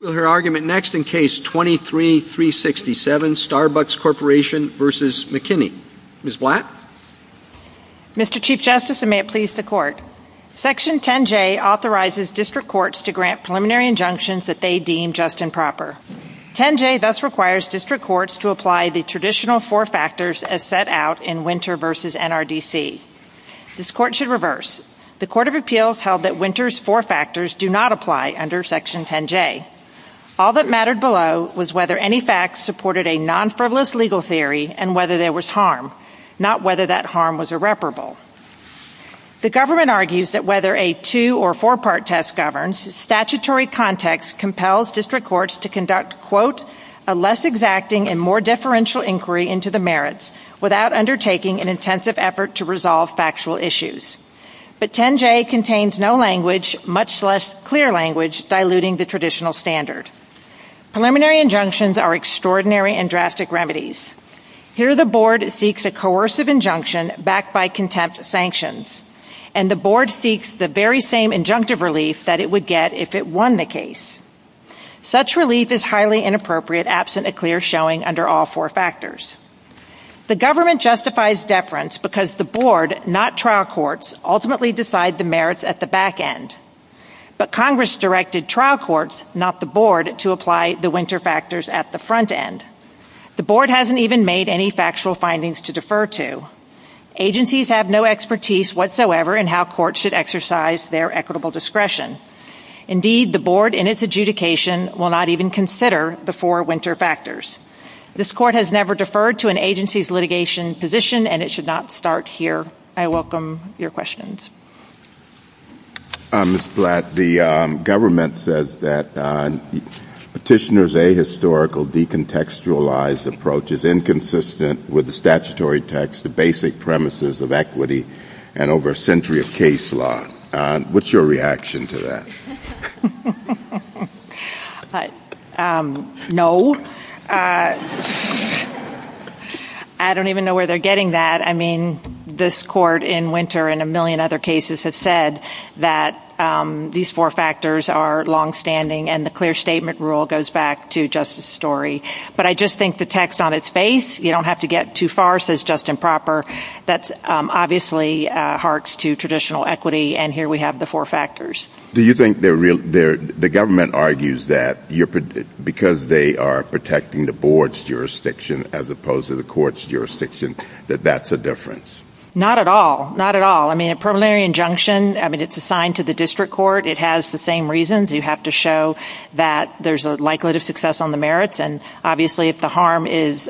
We will hear argument next in Case 23-367, Starbucks Corporation v. McKinney. Ms. Blatt? Mr. Chief Justice, and may it please the Court, Section 10J authorizes district courts to grant preliminary injunctions that they deem just and proper. 10J thus requires district courts to apply the traditional four factors as set out in Winter v. NRDC. This Court should All that mattered below was whether any facts supported a non-frivolous legal theory and whether there was harm, not whether that harm was irreparable. The government argues that whether a two- or four-part test governs, statutory context compels district courts to conduct, quote, a less exacting and more differential inquiry into the merits without undertaking an intensive effort to resolve factual issues. But 10J contains no language, much less clear language, diluting the traditional standard. Preliminary injunctions are extraordinary and drastic remedies. Here the Board seeks a coercive injunction backed by contempt sanctions, and the Board seeks the very same injunctive relief that it would get if it won the case. Such relief is highly inappropriate absent a clear showing under all four factors. The government justifies deference because the Board, not trial courts, ultimately decide the merits at the back end. But Congress directed trial courts, not the Board, to apply the winter factors at the front end. The Board hasn't even made any factual findings to defer to. Agencies have no expertise whatsoever in how courts should exercise their equitable discretion. Indeed, the Board in its adjudication will not even consider the four winter factors. This Court has never deferred to an agency's litigation position, and it should not start here. I welcome your questions. Mr. Blatt, the government says that Petitioner's ahistorical decontextualized approach is inconsistent with the statutory text, the basic premises of equity, and over a century of case law. What's your reaction to that? No. I don't even know where they're getting that. I mean, this Court in winter and a million other cases have said that these four factors are longstanding, and the clear statement rule goes back to justice story. But I just think the text on its face, you don't have to get too far, says just and proper, that obviously harks to traditional equity, and here we have the four factors. Do you think the government argues that because they are protecting the Board's jurisdiction as opposed to the court's jurisdiction, that that's a difference? Not at all. Not at all. I mean, a preliminary injunction, I mean, it's assigned to the district court. It has the same reasons. You have to show that there's a likelihood of success on the merits, and obviously if the harm is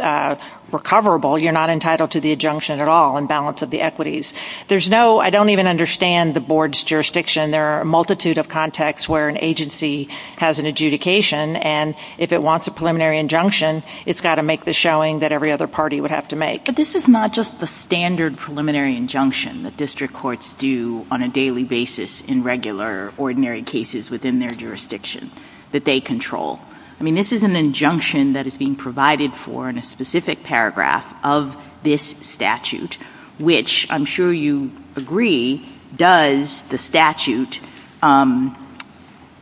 recoverable, you're not entitled to the injunction at all in balance of the equities. There's no, I don't even understand the Board's jurisdiction. There are a multitude of contexts where an agency has an adjudication, and if it wants a preliminary injunction, it's got to make the showing that every other party would have to make. But this is not just the standard preliminary injunction that district courts do on a daily basis in regular, ordinary cases within their jurisdiction that they control. I mean, this is an injunction that is being provided for in a specific paragraph of this statute, which I'm sure you agree does, the statute,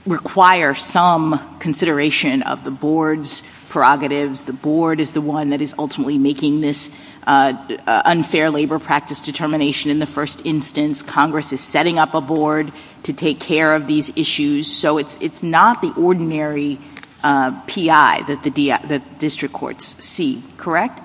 require some consideration of the Board's prerogatives. The Board is the one that is ultimately making this unfair labor practice determination in the first instance. Congress is setting up a Board to take care of these issues. So it's not the ordinary PI that the district courts see, correct?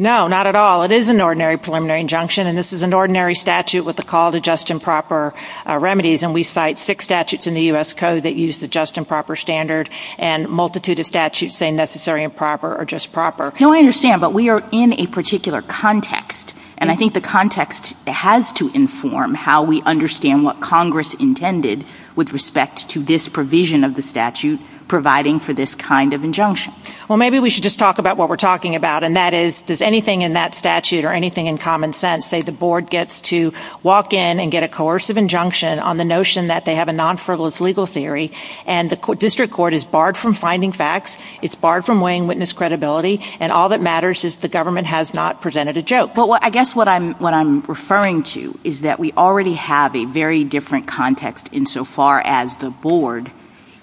No, not at all. It is an ordinary preliminary injunction, and this is an ordinary statute with a call to just and proper remedies, and we cite six statutes in the U.S. Code that use the just and proper standard, and a multitude of statutes say necessary and proper or just proper. No, I understand, but we are in a particular context, and I think the context has to inform how we understand what Congress intended with respect to this provision of the statute providing for this kind of injunction. Well, maybe we should just talk about what we're talking about, and that is, does anything in that statute or anything in common sense say the Board gets to walk in and get a coercive injunction on the notion that they have a non-frivolous legal theory, and the district court is barred from finding facts, it's barred from weighing witness credibility, and all that matters is the government has not presented a joke. Well, I guess what I'm referring to is that we already have a very different context insofar as the Board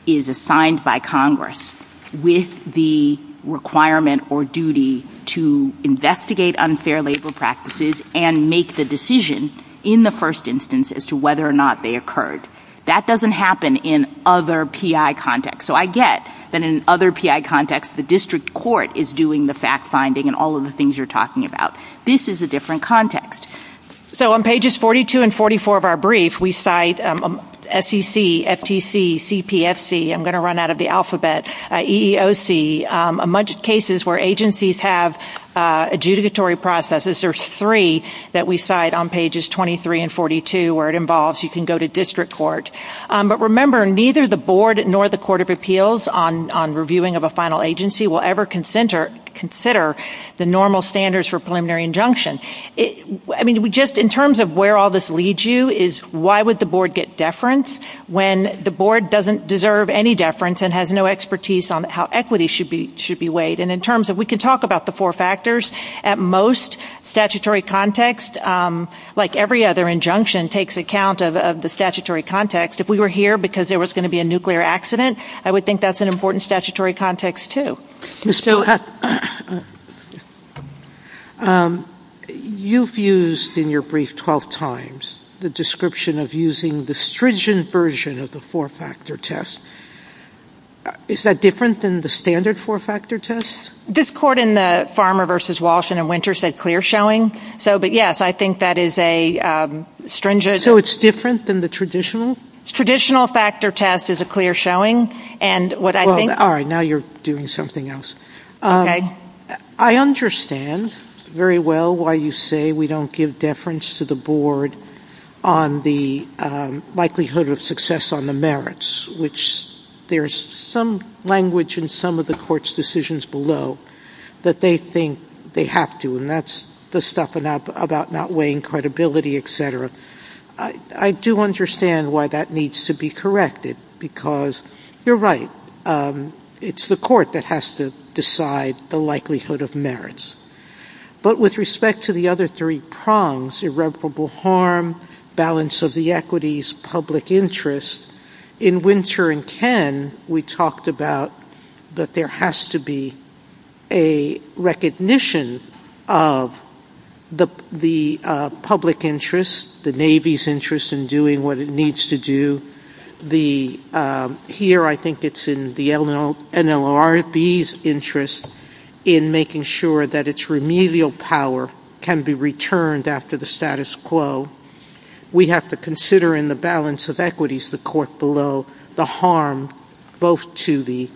is assigned by Congress with the requirement or duty to investigate unfair labor practices and make the decision in the first instance as to whether or not they occurred. That doesn't happen in other PI contexts, so I get that in other PI contexts the district court is doing the fact-finding and all of the things you're talking about. This is a different context. So on pages 42 and 44 of our brief, we cite SEC, FTC, CPFC, I'm going to run out of the alphabet, EEOC, a bunch of cases where agencies have adjudicatory processes. There's three that we cite on pages 23 and 42 where it involves you can go to district court. But remember, neither the Board nor the Court of Appeals on reviewing of a final agency will ever consider the normal standards for preliminary injunction. In terms of where all this leads you is why would the Board get deference when the Board doesn't deserve any deference and has no expertise on how equity should be weighed. And in terms of we can talk about the four factors, at most statutory context, like every other injunction takes account of the statutory context. If we were here because there was going to be a nuclear accident, I would think that's an important statutory context too. Ms. Bluthat, you've used in your brief 12 times the description of using the stringent version of the four-factor test. Is that different than the standard four-factor test? This court in the Farmer v. Walsh and in Winter said clear showing. But yes, I think that is a stringent. So it's different than the traditional? Traditional factor test is a clear showing. All right, now you're doing something else. I understand very well why you say we don't give deference to the Board on the likelihood of success on the merits, which there's some language in some of the court's decisions below that they think they have to, and that's the stuff about not weighing credibility, et cetera. I do understand why that needs to be corrected, because you're right. It's the court that has to decide the likelihood of merits. But with respect to the other three prongs, irreparable harm, balance of the equities, public interest, in Winter and Ken we talked about that there has to be a recognition of the public interest, the Navy's interest in doing what it needs to do. Here I think it's in the NLRB's interest in making sure that its remedial power can be returned after the status quo. We have to consider in the balance of equities, the court below, the harm both to the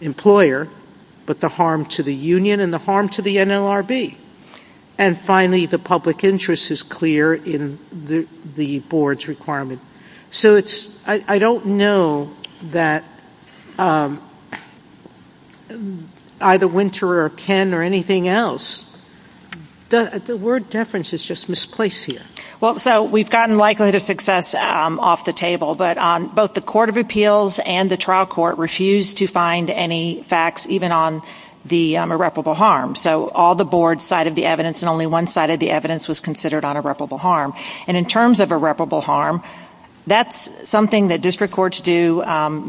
employer, but the harm to the union and the harm to the NLRB. And finally, the public interest is clear in the Board's requirement. So I don't know that either Winter or Ken or anything else, the word deference is just misplaced here. Well, so we've gotten likelihood of success off the table, but both the Court of Appeals and the trial court refused to find any facts even on the irreparable harm. So all the Board's side of the evidence and only one side of the evidence was considered on irreparable harm. And in terms of irreparable harm, that's something that district courts do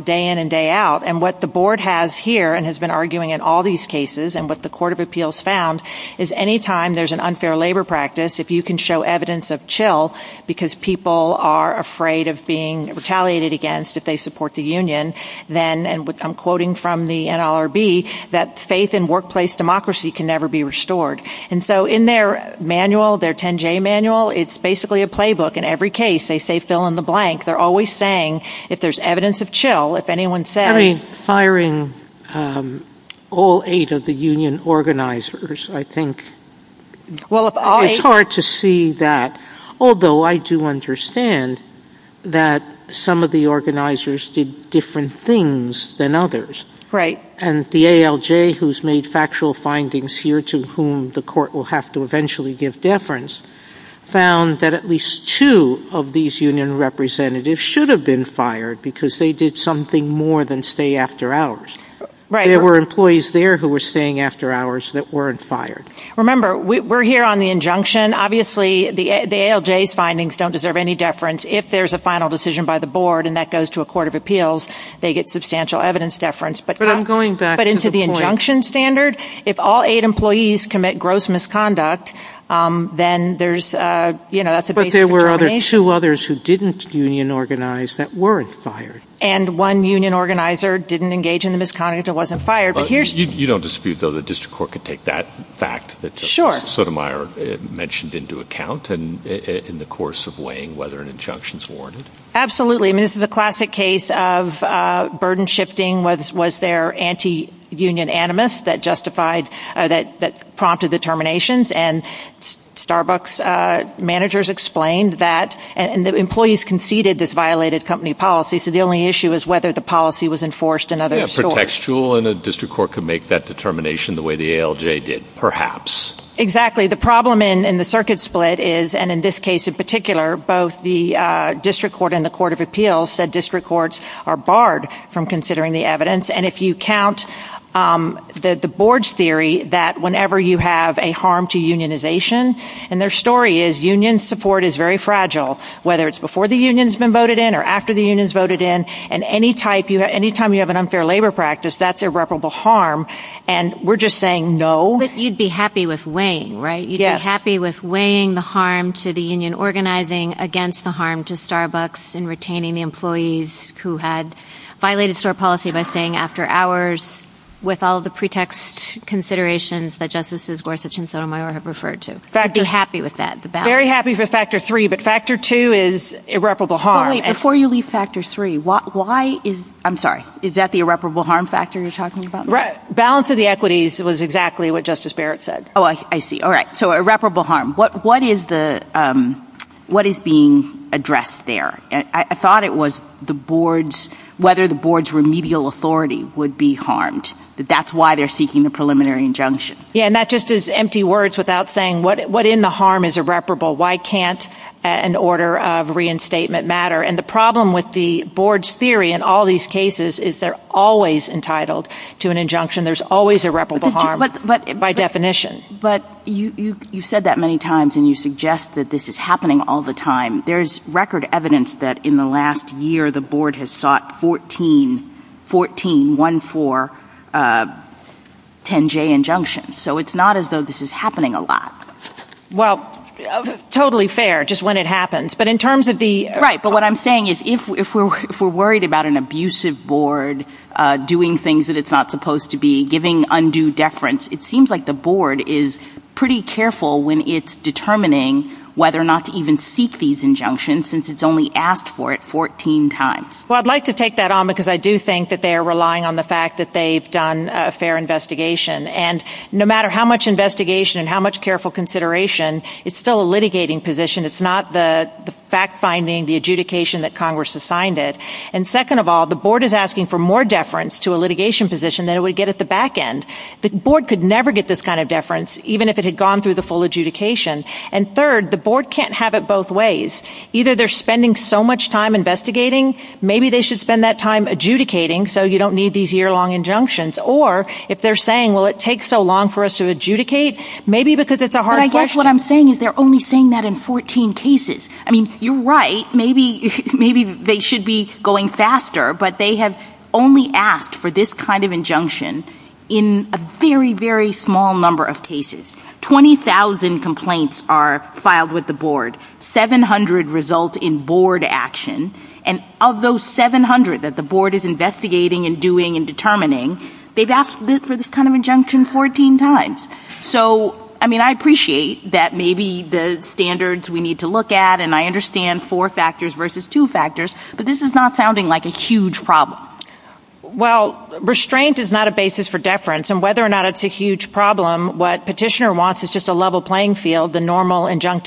day in and day out. And what the Board has here and has been arguing in all these cases and what the Court of Appeals found is any time there's an unfair labor practice, if you can show evidence of chill because people are afraid of being retaliated against if they support the union, then, and I'm quoting from the NLRB, that faith in workplace democracy can never be restored. And so in their manual, their 10-J manual, it's basically a playbook. In every case, they say fill in the blank. They're always saying if there's evidence of chill, if anyone says I mean, firing all eight of the union organizers, I think Well, if all eight to see that, although I do understand that some of the organizers did different things than others. And the ALJ, who's made factual findings here to whom the court will have to eventually give deference, found that at least two of these union representatives should have been fired because they did something more than stay after hours. There were employees there who were staying after hours that weren't fired. Remember, we're here on the injunction. Obviously, the ALJ's findings don't deserve any deference. If there's a final decision by the board and that goes to a court of appeals, they get substantial evidence deference. But I'm going back into the injunction standard. If all eight employees commit gross misconduct, then there's, you know, that's a But there were other two others who didn't union organize that weren't fired. And one union organizer didn't engage in the misconduct. It wasn't fired. You don't dispute, though, that district court could take that fact that Sotomayor mentioned into account in the course of weighing whether an injunction's warranted? Absolutely. I mean, this is a classic case of burden shifting. Was there anti-union animus that justified, that prompted the terminations? And Starbucks managers explained that, and the employees conceded this violated company policy. So the only issue is whether the policy was enforced in other stores. Yeah, protectual, and a district court could make that determination the way the ALJ did, perhaps. Exactly. The problem in the circuit split is, and in this case in particular, both the district court and the court of appeals said district courts are barred from considering the evidence. And if you count the board's theory that whenever you have a harm to unionization, and their story is union support is very fragile, whether it's before the union's been voted in or after the union's voted in, and any time you have an unfair labor practice, that's irreparable harm. And we're just saying no. But you'd be happy with weighing, right? You'd be happy with weighing the harm to the union organizing against the harm to Starbucks in retaining the employees who had violated store policy by staying after hours with all the pretext considerations that Justices Gorsuch and Sotomayor have referred to. You'd be happy with that, the balance. I'm very happy for factor three, but factor two is irreparable harm. Wait, before you leave factor three, why is, I'm sorry, is that the irreparable harm factor you're talking about? Right. Balance of the equities was exactly what Justice Barrett said. Oh, I see. All right. So irreparable harm. What is the, what is being addressed there? I thought it was the board's, whether the board's remedial authority would be harmed. That's why they're seeking the preliminary injunction. Yeah. And that just is empty words without saying what, what in the harm is irreparable? Why can't an order of reinstatement matter? And the problem with the board's theory in all these cases is they're always entitled to an injunction. There's always irreparable harm by definition. But you, you, you've said that many times and you suggest that this is happening all the time. There's record evidence that in the last year, the board has sought 14, 14, uh, 10 J injunctions. So it's not as though this is happening a lot. Well, totally fair. Just when it happens. But in terms of the. Right. But what I'm saying is if, if we're, if we're worried about an abusive board, uh, doing things that it's not supposed to be giving undue deference, it seems like the board is pretty careful when it's determining whether or not to even seek these injunctions since it's only asked for it 14 times. Well, I'd like to take that on because I do think that they are relying on the fact that they've done a fair investigation and no matter how much investigation and how much careful consideration, it's still a litigating position. It's not the fact finding the adjudication that Congress assigned it. And second of all, the board is asking for more deference to a litigation position that it would get at the back end. The board could never get this kind of deference even if it had gone through the full adjudication. And third, the board can't have it both ways. Either they're spending so much time investigating, maybe they should spend that time adjudicating so you don't need these year long injunctions or if they're saying, well, it takes so long for us to adjudicate maybe because it's a hard question. But I guess what I'm saying is they're only saying that in 14 cases. I mean, you're right. Maybe, maybe they should be going faster, but they have only asked for this kind of injunction in a very, very small number of cases. 20,000 complaints are filed with the board. 700 result in board action. And of those 700 that the board is investigating and doing and determining, they've asked for this kind of injunction 14 times. So, I mean, I appreciate that maybe the standards we need to look at, and I understand four factors versus two factors, but this is not sounding like a huge problem. Well, restraint is not a basis for deference. And whether or not it's a huge problem, what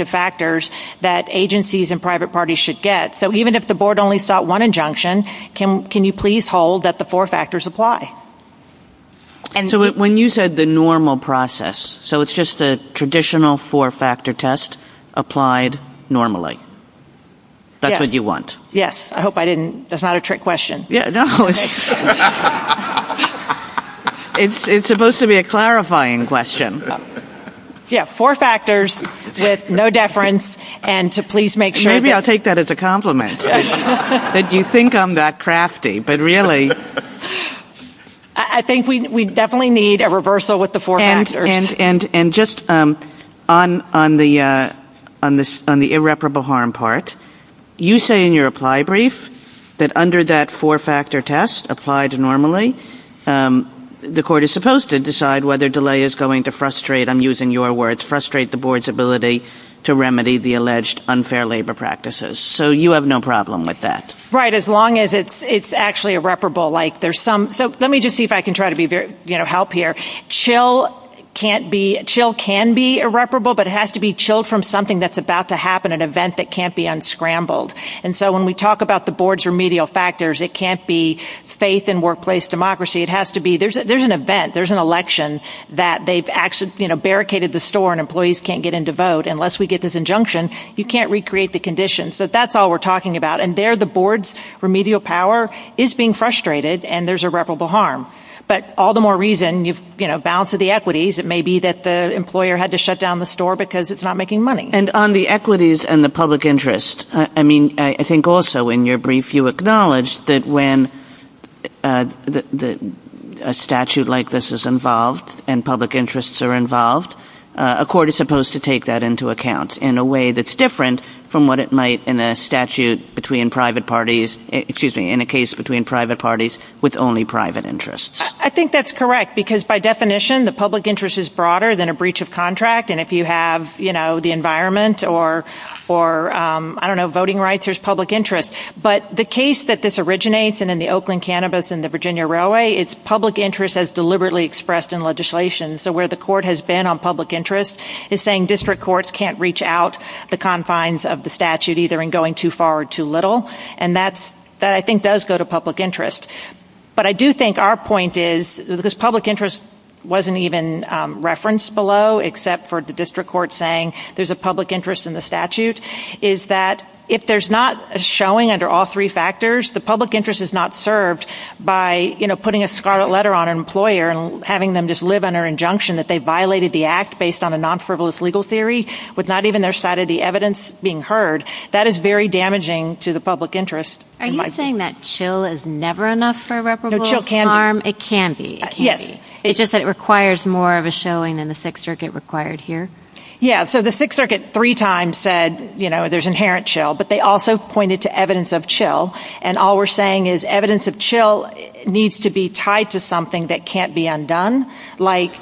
factors that agencies and private parties should get. So even if the board only sought one injunction, can you please hold that the four factors apply? When you said the normal process, so it's just the traditional four factor test applied normally? That's what you want? Yes. I hope I didn't. That's not a trick question. Yeah, no. It's supposed to be a clarifying question. Yeah, four factors with no deference, and to please make sure that Maybe I'll take that as a compliment. That you think I'm that crafty, but really I think we definitely need a reversal with the four factors. And just on the irreparable harm part, you say in your reply brief that under that four factor test applied normally, the court is supposed to decide whether delay is going to frustrate, I'm using your words, frustrate the board's ability to remedy the alleged unfair labor practices. So you have no problem with that. Right, as long as it's actually irreparable. So let me just see if I can try to help here. Chill can be irreparable, but it has to be chilled from something that's about to happen, an event that can't be unscrambled. And so when we talk about the board's remedial factors, it can't be faith in workplace democracy. It has to be, there's an event, there's an election that they've actually barricaded the store and employees can't get in to vote unless we get this injunction, you can't recreate the condition. So that's all we're talking about. And there the board's remedial power is being frustrated and there's irreparable harm. But all the more reason, balance of the equities, it may be that the employer had to shut down the store because it's not making money. And on the equities and the public interest, I mean, I think also in your brief, you acknowledged that when a statute like this is involved and public interests are involved, a court is supposed to take that into account in a way that's different from what it might in a statute between private parties, excuse me, in a case between private parties with only private interests. I think that's correct because by definition, the public interest is broader than a breach of contract. And if you have, you know, the environment or, I don't know, voting rights, there's public interest. But the case that this originates and in the Oakland Cannabis and the Virginia Railway, it's public interest has deliberately expressed in legislation. So where the court has been on public interest is saying district courts can't reach out the confines of the statute, either in going too far or too little. And that's, that I think does go to public interest. But I do think our point is, because public interest wasn't even referenced below, except for the district court saying there's a public interest in the statute, is that if there's not a showing under all three factors, the public interest is not served by, you know, putting a scarlet letter on an employer and having them just live under injunction that they violated the act based on a non-frivolous legal theory with not even their side of the evidence being heard. That is very damaging to the public interest. Are you saying that chill is never enough for reparable harm? No, chill can be. It can be? Yes. It's just that it requires more of a showing than the Sixth Circuit required here? Yeah, so the Sixth Circuit three times said, you know, there's inherent chill. But they also pointed to evidence of chill. And all we're saying is evidence of chill needs to be tied to something that can't be undone. Like,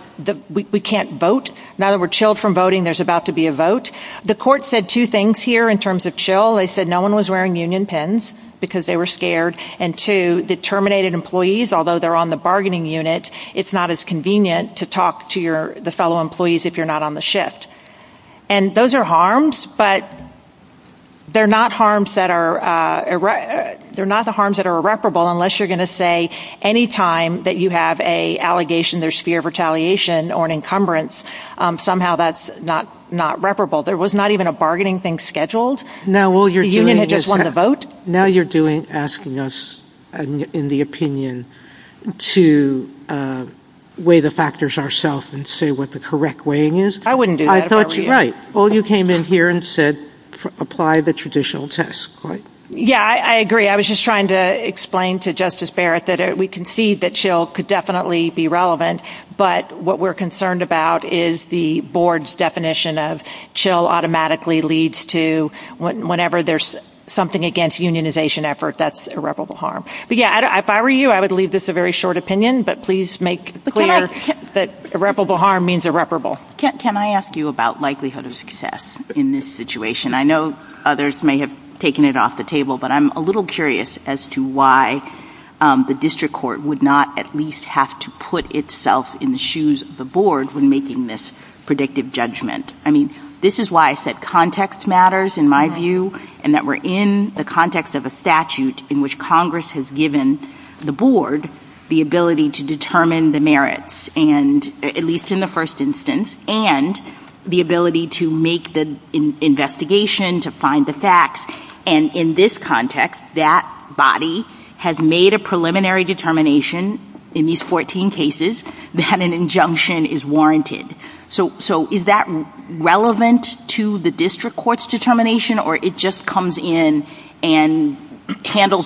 we can't vote. Now that we're chilled from voting, there's about to be a vote. The court said two things here in terms of chill. They said no one was wearing union pins because they were scared. And two, the terminated employees, although they're on the bargaining unit, it's not as convenient to talk to your, the fellow employees if you're not on the shift. And those are harms, but they're not harms that are, they're not the harms that are irreparable unless you're going to say any time that you have a allegation there's fear of retaliation or an encumbrance, somehow that's not reparable. There was not even a bargaining thing scheduled. The union had just won the vote. Now you're doing, asking us in the opinion to weigh the factors ourself and say what the correct weighing is. I wouldn't do that if I were you. I thought you, right. All you came in here and said, apply the traditional test, right? Yeah, I agree. I was just trying to explain to Justice Barrett that we concede that chill could definitely be relevant, but what we're concerned about is the board's definition of chill automatically leads to whenever there's something against unionization effort, that's irreparable harm. But yeah, if I were you, I would leave this a very short opinion, but please make clear that irreparable harm means irreparable. Can I ask you about likelihood of success in this situation? I know others may have taken it off the table, but I'm a little curious as to why the district court would not at least have to put itself in the shoes of the board when making this predictive judgment. I mean, this is why I said context matters in my view, and that we're in the context of a statute in which Congress has given the board the ability to determine the merits, and at least in the first instance, and the ability to make the investigation, to find the facts. And in this context, that body has made a preliminary determination in these 14 cases that an injunction is warranted. So is that relevant to the district court's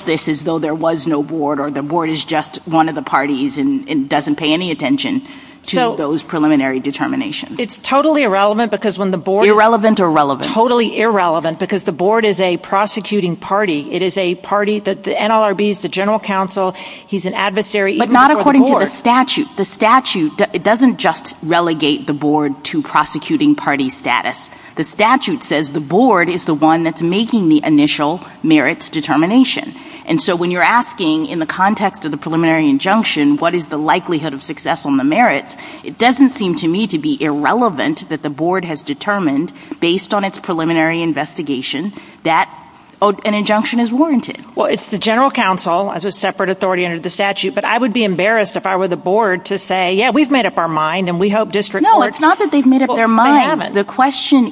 this as though there was no board, or the board is just one of the parties and doesn't pay any attention to those preliminary determinations? It's totally irrelevant because when the board is a prosecuting party, it is a party that the NLRB's, the general counsel, he's an adversary. But not according to the statute. The statute doesn't just relegate the board to prosecuting determination. And so when you're asking in the context of the preliminary injunction, what is the likelihood of success on the merits, it doesn't seem to me to be irrelevant that the board has determined, based on its preliminary investigation, that an injunction is warranted. Well, it's the general counsel, as a separate authority under the statute, but I would be embarrassed if I were the board to say, yeah, we've made up our mind, and we hope district courts... No, it's not that they've made up their mind. They haven't. The question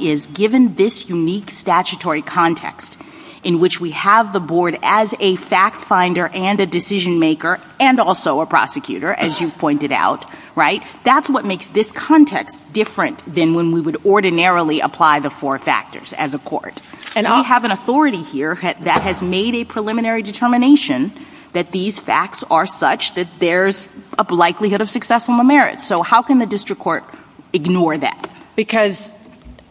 is, given this unique statutory context in which we have the board as a fact finder and a decision maker, and also a prosecutor, as you've pointed out, right? That's what makes this context different than when we would ordinarily apply the four factors as a court. We have an authority here that has made a preliminary determination that these facts are such that there's a likelihood of success on the merits. So how can the district court ignore that? Because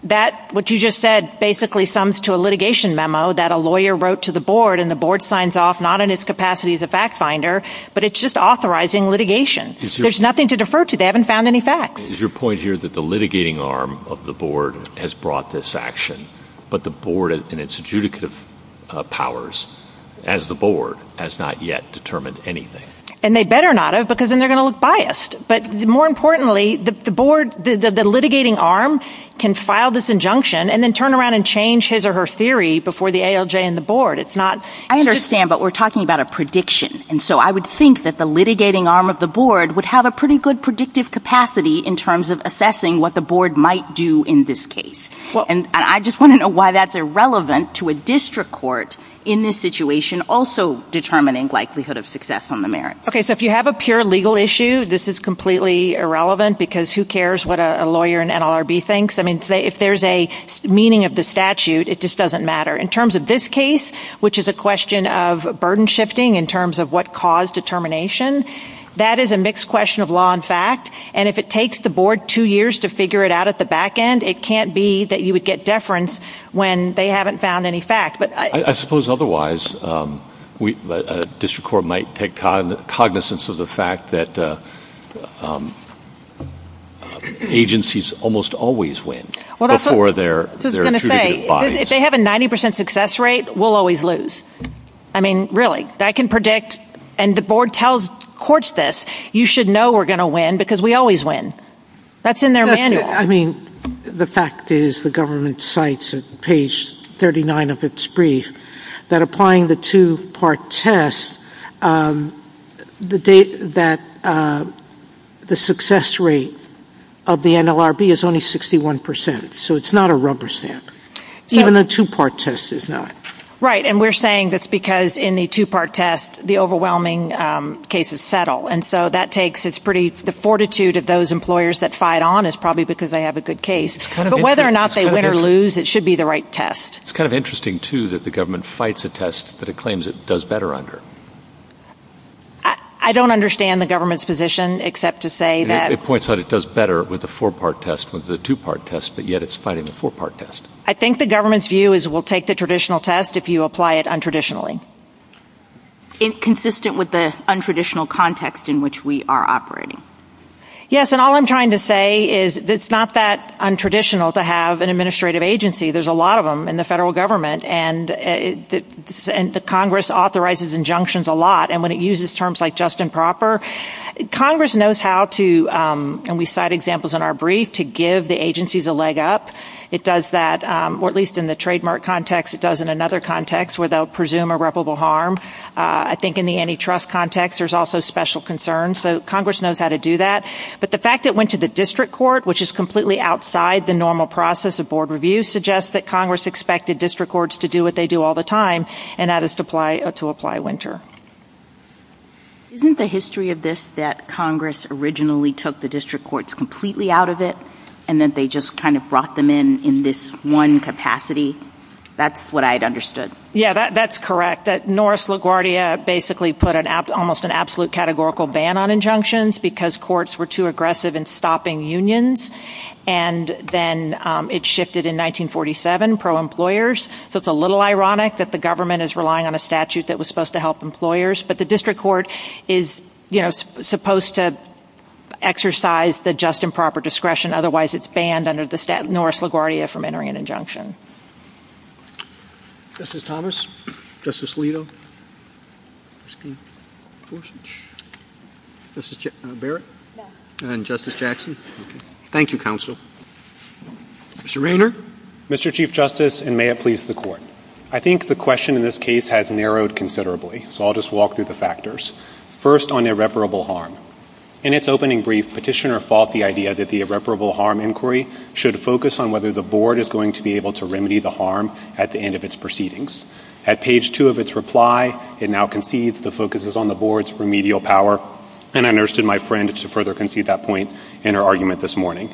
that, what you just said, basically sums to a litigation memo that a lawyer wrote to the board, and the board signs off, not in its capacity as a fact finder, but it's just authorizing litigation. There's nothing to defer to. They haven't found any facts. Is your point here that the litigating arm of the board has brought this action, but the board and its adjudicative powers, as the board, has not yet determined anything? And they better not have, because then they're going to look biased. But more importantly, the board, the litigating arm, can file this injunction and then turn around and change his or her theory before the ALJ and the board. It's not... I understand, but we're talking about a prediction. And so I would think that the litigating arm of the board would have a pretty good predictive capacity in terms of assessing what the board might do in this case. And I just want to know why that's irrelevant to a district court in this situation also determining likelihood of success on the merits. Okay, so if you have a pure legal issue, this is completely irrelevant, because who cares what a lawyer in NLRB thinks? I mean, if there's a meaning of the statute, it just doesn't matter. In terms of this case, which is a question of burden shifting in terms of what caused determination, that is a mixed question of law and fact. And if it takes the board two years to figure it out at the back end, it can't be that you would get deference when they haven't found any fact. I suppose otherwise, a district court might take cognizance of the fact that agencies almost always win before they're treated as bodies. If they have a 90% success rate, we'll always lose. I mean, really, that can predict, and the board tells courts this, you should know we're going to win because we always win. That's in their manual. I mean, the fact is, the government cites at page 39 of its brief that applying the two-part test, the success rate of the NLRB is only 61%, so it's not a rubber stamp. Even the two-part test is not. Right, and we're saying that's because in the two-part test, the overwhelming cases settle. And so that takes, it's pretty, the fortitude of those employers that fight on this, probably because they have a good case. But whether or not they win or lose, it should be the right test. It's kind of interesting, too, that the government fights a test that it claims it does better under. I don't understand the government's position, except to say that It points out it does better with the four-part test, with the two-part test, but yet it's fighting the four-part test. I think the government's view is we'll take the traditional test if you apply it untraditionally. Consistent with the untraditional context in which we are operating. Yes, and all I'm trying to say is it's not that untraditional to have an administrative agency. There's a lot of them in the federal government, and the Congress authorizes injunctions a lot. And when it uses terms like just and proper, Congress knows how to, and we cite examples in our brief, to give the agencies a leg up. It does that, or at least in the trademark context, it does in another context where they'll presume irreparable harm. I think Congress knows how to do that. But the fact it went to the district court, which is completely outside the normal process of board review, suggests that Congress expected district courts to do what they do all the time, and that is to apply Winter. Isn't the history of this that Congress originally took the district courts completely out of it, and that they just kind of brought them in in this one capacity? That's what I'd understood. Yeah, that's correct. Norris LaGuardia basically put almost an absolute categorical ban on injunctions, because courts were too aggressive in stopping unions. And then it shifted in 1947, pro-employers. So it's a little ironic that the government is relying on a statute that was supposed to help employers. But the district court is supposed to exercise the just and proper discretion. Otherwise, it's banned under the statute. Norris LaGuardia from entering an injunction. Justice Thomas? Justice Alito? Justice Barrett? And Justice Jackson? Okay. Thank you, counsel. Mr. Rayner? Mr. Chief Justice, and may it please the Court. I think the question in this case has narrowed considerably, so I'll just walk through the factors. First, on irreparable harm. In its opening brief, Petitioner fought the idea that the irreparable harm inquiry should focus on whether the board is going to be able to remedy the harm at the end of its proceedings. At page two of its reply, it now concedes the focus is on the board's remedial power. And I nursed in my friend to further concede that point in her argument this morning.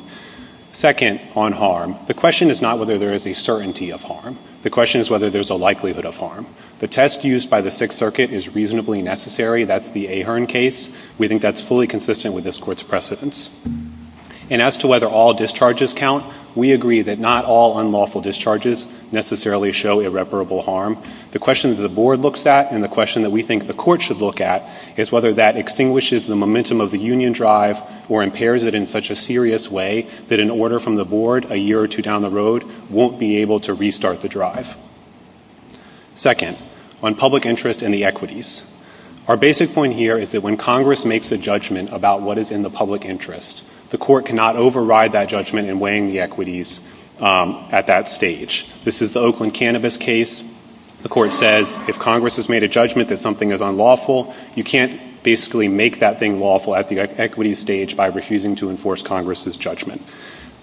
Second, on harm. The question is not whether there is a certainty of harm. The question is whether there's a likelihood of harm. The test used by the Sixth Circuit is reasonably necessary. That's the Ahearn case. We think that's fully consistent with this Court's unlawful discharges necessarily show irreparable harm. The question that the board looks at and the question that we think the Court should look at is whether that extinguishes the momentum of the union drive or impairs it in such a serious way that an order from the board a year or two down the road won't be able to restart the drive. Second, on public interest and the equities. Our basic point here is that when Congress makes a judgment about what is in the public interest, the Court cannot override that judgment in weighing the equities at that stage. This is the Oakland Cannabis case. The Court says if Congress has made a judgment that something is unlawful, you can't basically make that thing lawful at the equities stage by refusing to enforce Congress's judgment.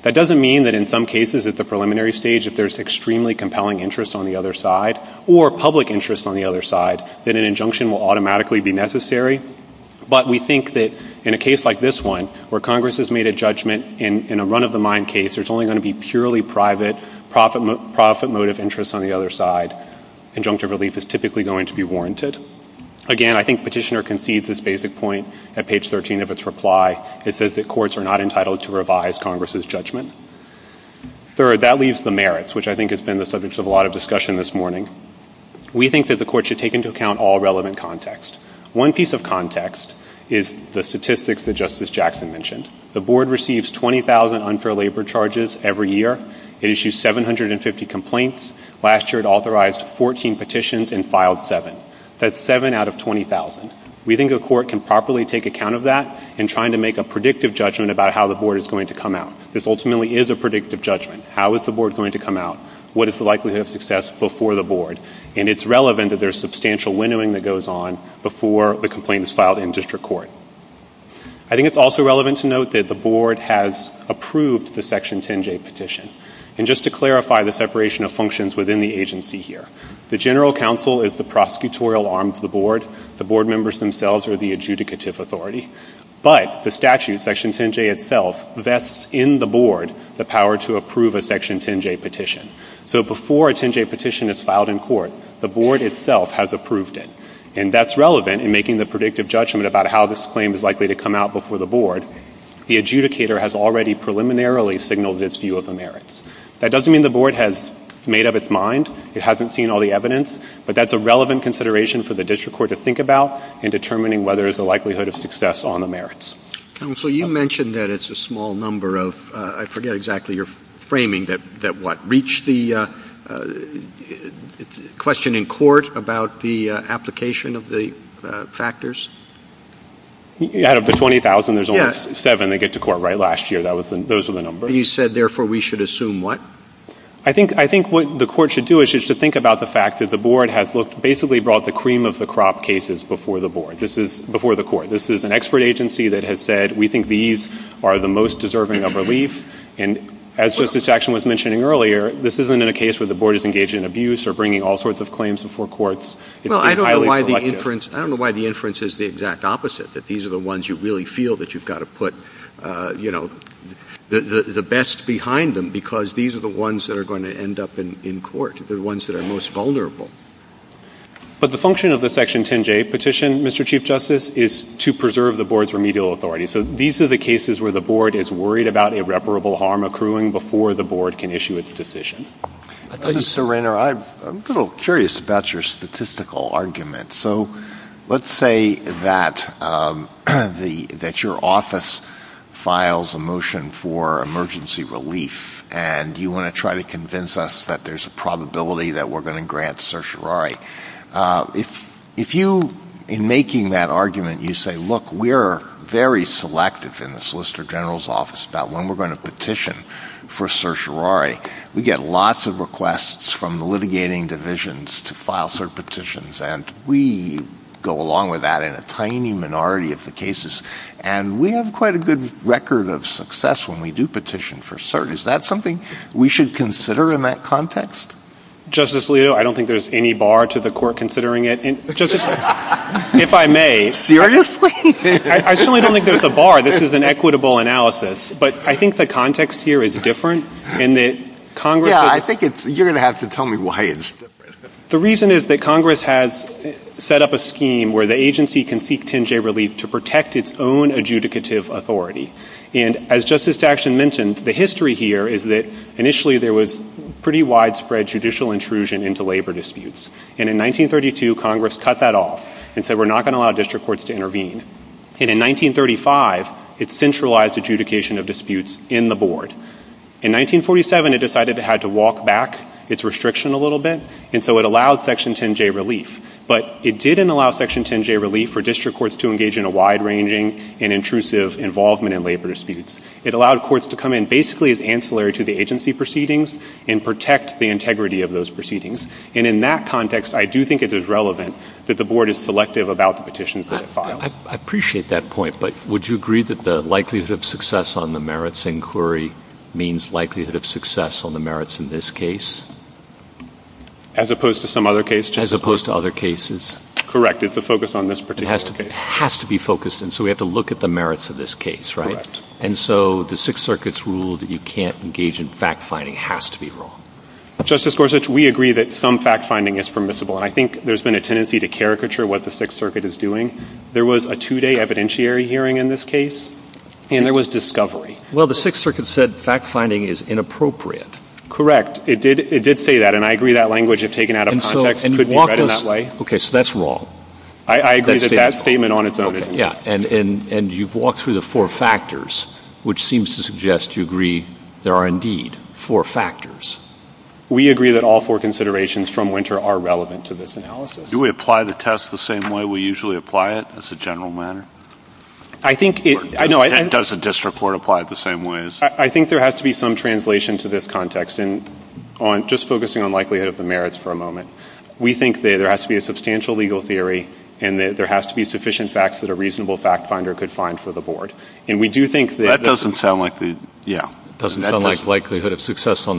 That doesn't mean that in some cases at the preliminary stage if there's extremely compelling interest on the other side or public interest on the other side that an injunction will automatically be necessary. But we think that in a case like this one where Congress has made a judgment in a run-of-the-mind case, there's only going to be purely private, profit motive interest on the other side. Injunctive relief is typically going to be warranted. Again, I think Petitioner concedes this basic point at page 13 of its reply. It says that courts are not entitled to revise Congress's judgment. Third, that leaves the merits, which I think has been the subject of a lot of discussion this morning. We think that the Court should take into account all relevant context. One piece of context is the statistics that Justice Jackson mentioned. The Board receives 20,000 unfair labor charges every year. It issues 750 complaints. Last year it authorized 14 petitions and filed 7. That's 7 out of 20,000. We think a court can properly take account of that in trying to make a predictive judgment about how the Board is going to come out. This ultimately is a predictive judgment. How is the Board going to come out? What is the likelihood of success before the Board? And it's relevant that there's substantial windowing that goes on before the complaint is filed in district court. I think it's also relevant to note that the Board has approved the Section 10J petition. And just to clarify the separation of functions within the agency here, the General Counsel is the prosecutorial arm of the Board. The Board members themselves are the adjudicative authority. But the statute, Section 10J itself, vests in the Board the power to approve a Section 10J petition. So before a 10J petition is filed in court, the claim is likely to come out before the Board, the adjudicator has already preliminarily signaled its view of the merits. That doesn't mean the Board has made up its mind. It hasn't seen all the evidence. But that's a relevant consideration for the district court to think about in determining whether there's a likelihood of success on the merits. MR. BOUTROUS. Counsel, you mentioned that it's a small number of — I forget exactly your framing — that what, reach the question in court about the application of the factors? MR. SCHROEDER. Out of the 20,000, there's only seven that get to court, right, last year. Those were the numbers. MR. BOUTROUS. You said, therefore, we should assume what? MR. SCHROEDER. I think what the Court should do is just to think about the fact that the Board has basically brought the cream of the crop cases before the Court. This is an expert agency that has said, we think these are the most deserving of relief. And as Justice Jackson was mentioning earlier, this isn't in a case where the Board is engaged in abuse or bringing all sorts of claims before courts. It's been highly selective. I don't know why the inference is the exact opposite, that these are the ones you really feel that you've got to put, you know, the best behind them, because these are the ones that are going to end up in court, the ones that are most vulnerable. MR. BOUTROUS. But the function of the Section 10J petition, Mr. Chief Justice, is to preserve the Board's remedial authority. So these are the cases where the Board is worried about irreparable harm accruing before the Board can issue its decision. MR. REINER. Mr. Reiner, I'm a little curious about your statistical argument. So let's say that your office files a motion for emergency relief, and you want to try to convince us that there's a probability that we're going to grant certiorari. If you, in making that argument, you say, look, we're very selective in the Solicitor General's Office about when we're going to petition for certiorari. We get lots of requests from the litigating divisions to file cert petitions, and we go along with that in a tiny minority of the cases. And we have quite a good record of success when we do petition for cert. Is that something we should consider in that context? MR. BOUTROUS. Justice Alito, I don't think there's any bar to the Court considering it. Justice, if I may. MR. REINER. Seriously? MR. BOUTROUS. I certainly don't think there's a bar. This is an equitable analysis. But I think the context here is different, and that Congress — MR. REINER. Yeah, I think it's — you're going to have to tell me why it's different. MR. BOUTROUS. The reason is that Congress has set up a scheme where the agency can seek 10-J relief to protect its own adjudicative authority. And as Justice Thaction mentioned, the history here is that initially there was pretty widespread judicial intrusion into labor disputes. And in 1932, Congress cut that off and said, we're not going to allow district courts to intervene. And in 1935, it centralized adjudication of disputes in the board. In 1947, it decided it had to walk back its restriction a little bit, and so it allowed Section 10-J relief. But it didn't allow Section 10-J relief for district courts to engage in a wide-ranging and intrusive involvement in labor disputes. It allowed courts to come in basically as ancillary to the agency proceedings and protect the integrity of those proceedings. And in that context, I do think it is relevant that the board is selective about the petitions that it files. MR. BOUTROUS. I appreciate that point, but would you agree that the likelihood of success on the merits inquiry means likelihood of success on the merits in this case? MR. BOUTROUS. As opposed to some other case? MR. BOUTROUS. As opposed to other cases? MR. BOUTROUS. Correct. It's a focus on this particular case. MR. BOUTROUS. It has to be focused. And so we have to look at the merits of this case, right? And so the Sixth Circuit's rule that you can't engage in fact-finding has to be wrong. MR. BOUTROUS. Justice Gorsuch, we agree that some fact-finding is permissible, and I think there's been a tendency to caricature what the Sixth Circuit is doing. There was a two-day evidentiary hearing in this case, and there was discovery. MR. GORSUCH. Well, the Sixth Circuit said fact-finding is inappropriate. MR. BOUTROUS. Correct. It did say that, and I agree that language, if taken out of context, could be read in that way. MR. GORSUCH. Okay. So that's wrong. MR. BOUTROUS. I agree that that statement on its own is wrong. MR. GORSUCH. Okay. Yeah. And you've walked through the four factors, which seems to suggest you agree there are indeed four factors. MR. BOUTROUS. We agree that all four considerations from Winter are relevant to this analysis. MR. GORSUCH. Do we apply the test the same way we usually apply it, as a general matter? MR. BOUTROUS. I think it – no, I – MR. GORSUCH. Does a district court apply it the same way as – MR. BOUTROUS. I think there has to be some translation to this context, and on – just focusing on likelihood of the merits for a moment. We think that there has to be a substantial legal theory, and that there has to be sufficient facts that a reasonable fact-finder could find for the board. And we do think that – MR. GORSUCH. It's likelihood of success on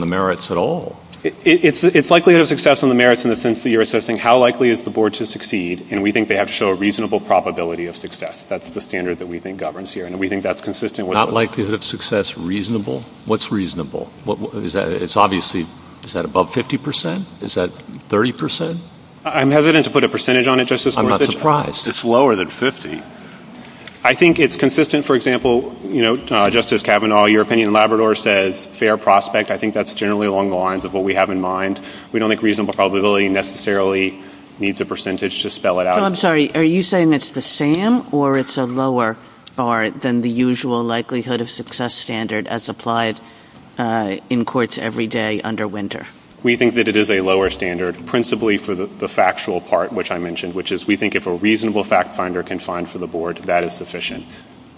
the merits in the sense that you're assessing how likely is the board to succeed, and we think they have to show a reasonable probability of success. That's the standard that we think governs here, and we think that's consistent with – MR. BOUTROUS. Not likelihood of success reasonable? What's reasonable? What – is that – it's obviously – is that above 50 percent? Is that 30 percent? MR. GORSUCH. I'm hesitant to put a percentage on it, Justice Boutrous. MR. BOUTROUS. I'm not surprised. It's lower than 50. MR. GORSUCH. I think it's consistent. For example, you know, Justice Kavanaugh, your opinion in Labrador says fair prospect. I think that's generally along the lines of what we have in mind. We don't think reasonable probability necessarily needs a percentage to spell it out. MR. KAVANAUGH. So I'm sorry. Are you saying it's the same, or it's a lower bar than the usual likelihood of success standard as applied in courts every day under Winter? MR. BOUTROUS. We think that it is a lower standard, principally for the factual part, which I mentioned, which is we think if a reasonable fact-finder can find for the board, that is sufficient.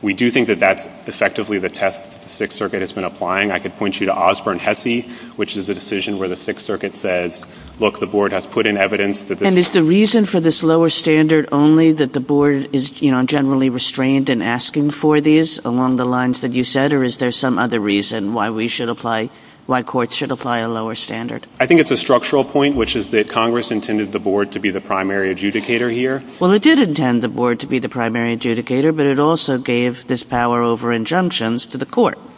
We do think that that's effectively the test that the Sixth Circuit has been applying. I could point you to Osborne-Hesse, which is a decision where the Sixth Circuit says, look, the board has put in evidence that this is the case. MR. KAVANAUGH. And is the reason for this lower standard only that the board is, you know, generally restrained in asking for these along the lines that you said, or is there some other reason why we should apply, why courts should apply a lower standard? MR. BOUTROUS. I think it's a structural point, which is that Congress intended the board to be the primary adjudicator here. MR. KAVANAUGH. Well, it did intend the board to be the primary adjudicator, but it also gave this power over injunctions to the court. MR. BOUTROUS.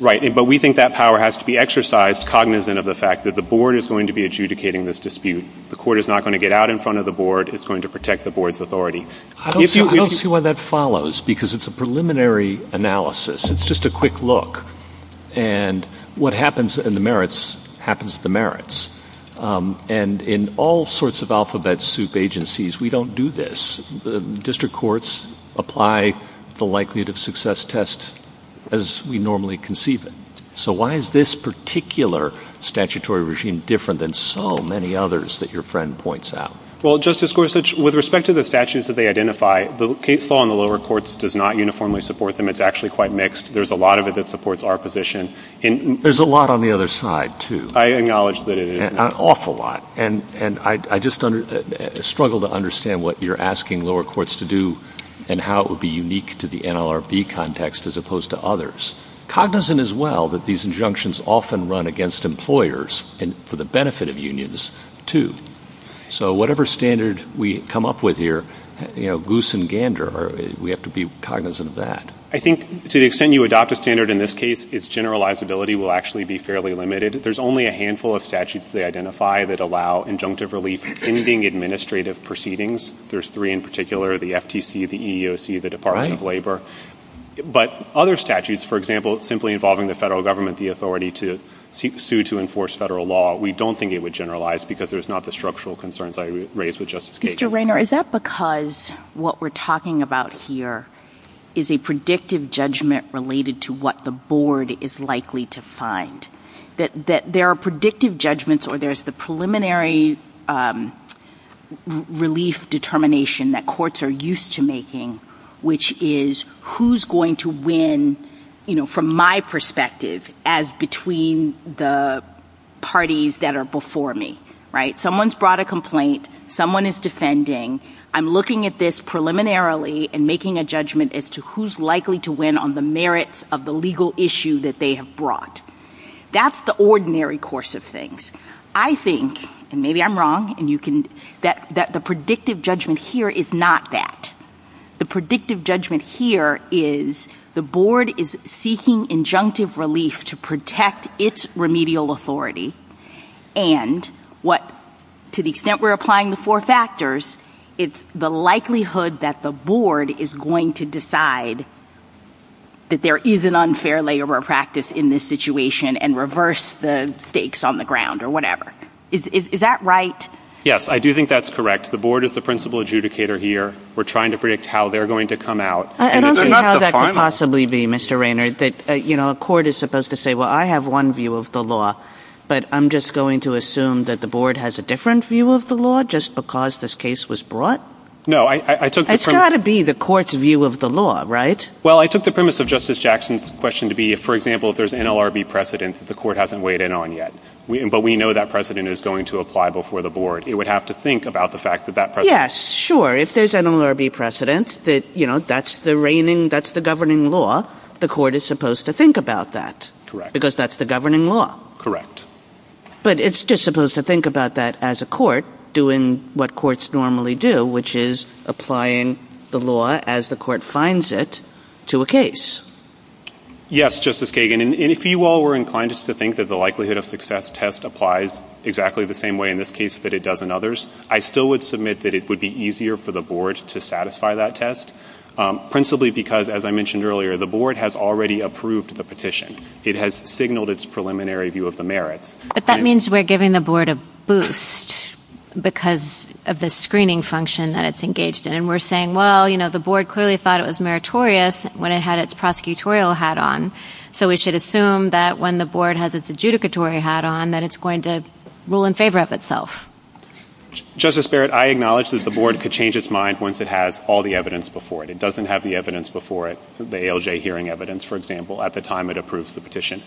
Right. But we think that power has to be exercised cognizant of the fact that the board is going to be adjudicating this dispute. The court is not going to get out in front of the board. It's going to protect the board's authority. MR. KAVANAUGH. I don't see why that follows, because it's a preliminary analysis. It's just a quick look. And what happens in the merits happens at the merits. And in all sorts of alphabet soup agencies, we don't do this. District courts apply the likelihood of success test as we normally conceive it. So why is this particular statutory regime different than so many others that your friend points out? MR. BOUTROUS. Well, Justice Gorsuch, with respect to the statutes that they identify, the case law in the lower courts does not uniformly support them. It's actually quite mixed. There's a lot of it that supports our position. MR. KAVANAUGH. There's a lot on the other side, too. MR. BOUTROUS. I acknowledge that it is. MR. KAVANAUGH. An awful lot. And I just struggle to understand what you're asking lower courts to do and how it would be unique to the NLRB context as opposed to others. Cognizant as well that these injunctions often run against employers and for the benefit of unions, too. So whatever standard we come up with here, you know, goose and gander. We have to be cognizant of that. MR. BOUTROUS. I think to the extent you adopt a standard in this case, its generalizability will actually be fairly limited. There's only a handful of statutes they identify that allow injunctive relief in ending administrative proceedings. There's three in particular, the FTC, the EEOC, the Department of Labor. But other statutes, for example, simply involving the federal government, the authority to sue to enforce federal law, we don't think it would generalize because there's not the structural concerns I raised with Justice Kagan. MS. MOSS. Mr. Raynor, is that because what we're talking about here is a predictive judgment related to what the board is likely to find? That there are predictive judgments or there's the preliminary relief determination that courts are used to making, which is who's going to win, you know, from my perspective as between the parties that are before me, right? Someone's brought a complaint. Someone is defending. I'm looking at this preliminarily and making a judgment as to who's likely to win on the merits of the legal issue that they have brought. That's the ordinary course of things. I think, and maybe I'm wrong, and you can, that the predictive judgment here is not that. The predictive judgment here is the board is seeking injunctive relief to protect its remedial authority and what to the extent we're applying the four factors, it's the likelihood that the board is going to decide that there is an unfair layover of practice in this situation and reverse the stakes on the ground or whatever. Is that right? MR. RAYNOR. Yes, I do think that's correct. The board is the principal adjudicator here. We're trying to predict how they're going to come out. MS. MOSS. I don't see how that could possibly be, Mr. Raynor, that, you know, a court is supposed to say, well, I have one view of the law, but I'm just going to assume that the board has a different view of the law just because this case was brought? MR. RAYNOR. No, I took the firm ‑‑ MS. MOSS. It would be the court's view of the law, right? MR. RAYNOR. Well, I took the premise of Justice Jackson's question to be, for example, if there's an NLRB precedent that the court hasn't weighed in on yet, but we know that precedent is going to apply before the board, it would have to think about the fact that that precedent ‑‑ MS. MOSS. Yes, sure. If there's an NLRB precedent that, you know, that's the reigning, that's the governing law, the court is supposed to think about that. MR. RAYNOR. Correct. MS. MOSS. Because that's the governing law. MR. RAYNOR. Correct. MS. MOSS. But it's just supposed to think about that as a court doing what courts normally do, which is applying the law as the court finds it to a case. MR. RAYNOR. Yes, Justice Kagan. And if you all were inclined just to think that the likelihood of success test applies exactly the same way in this case that it does in others, I still would submit that it would be easier for the board to satisfy that test, principally because, as I mentioned earlier, the board has already approved the petition. It has signaled its preliminary view of the merits. MS. MOSS. But that means we're giving the board a boost because of the screening function that it's engaged in. And we're saying, well, you know, the board clearly thought it was meritorious when it had its prosecutorial hat on. So we should assume that when the board has its adjudicatory hat on, that it's going to rule in favor of itself. MR. RAYNOR. Justice Barrett, I acknowledge that the board could change its mind once it has all the evidence before it. It doesn't have the evidence before it, the ALJ hearing evidence, for example, at the time it approves the petition.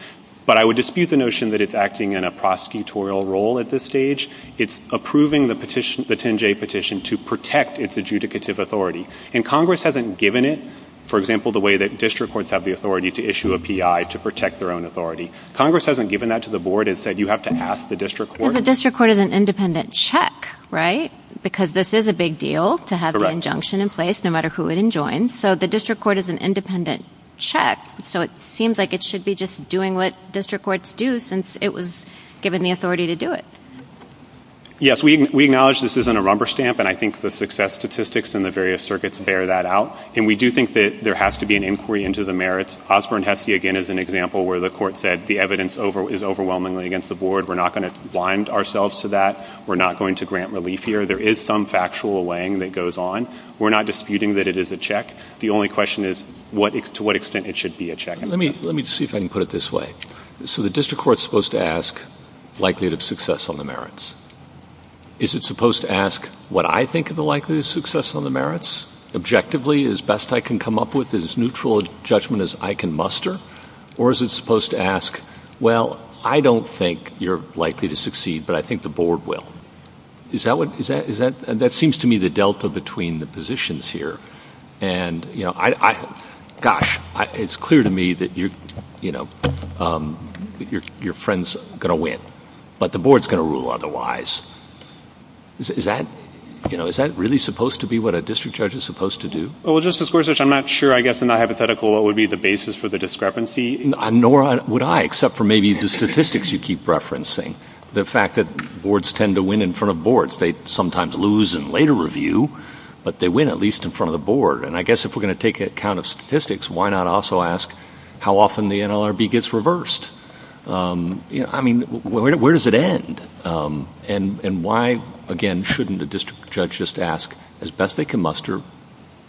But I would dispute the notion that it's acting in a prosecutorial role at this stage. It's approving the petition, the 10-J petition, to protect its adjudicative authority. And Congress hasn't given it, for example, the way that district courts have the authority to issue a P.I. to protect their own authority. Congress hasn't given that to the board and said, you have to ask the district court. MS. MOSS. Because the district court is an independent check, right? Because this is a big deal to have the injunction in place, no matter who it enjoins. So the district court is an independent check. So it seems like it should be just doing what district courts do, since it was given the authority to do it. MR. RAYNOR. Yes, we acknowledge this isn't a rumber stamp, and I think the success statistics in the various circuits bear that out. And we do think that there has to be an inquiry into the merits. Osborne-Hessy, again, is an example where the court said the evidence is overwhelmingly against the board. We're not going to blind ourselves to that. We're not going to grant relief here. There is some factual weighing that goes on. We're not disputing that it is a check. The only question is to what extent it should be a check. MR. BOUTROUS. Let me see if I can put it this way. So the district court is supposed to ask likelihood of success on the merits. Is it supposed to ask what I think of the likelihood of success on the merits, objectively, as best I can come up with, as neutral a judgment as I can muster? Or is it supposed to ask, well, I don't think you're likely to succeed, but I think the board will? Is that what, is that, that seems to me the delta between the positions here? And, you know, I, I, gosh, it's clear to me that you're, you know, your friend's going to win, but the board's going to rule otherwise. Is that, you know, is that really supposed to be what a district judge is supposed to do? MR. ZUCKERBERG. Well, Justice Gorsuch, I'm not sure, I guess, in that hypothetical what would be the basis for the discrepancy. MR. BOUTROUS. Nor would I, except for maybe the statistics you keep referencing, the fact that boards tend to win in front of boards. They sometimes lose in later review, but they win at least in front of the board. And I guess if we're going to take account of statistics, why not also ask how often the NLRB gets reversed? You know, I mean, where does it end? And why, again, shouldn't a district judge just ask, as best they can muster,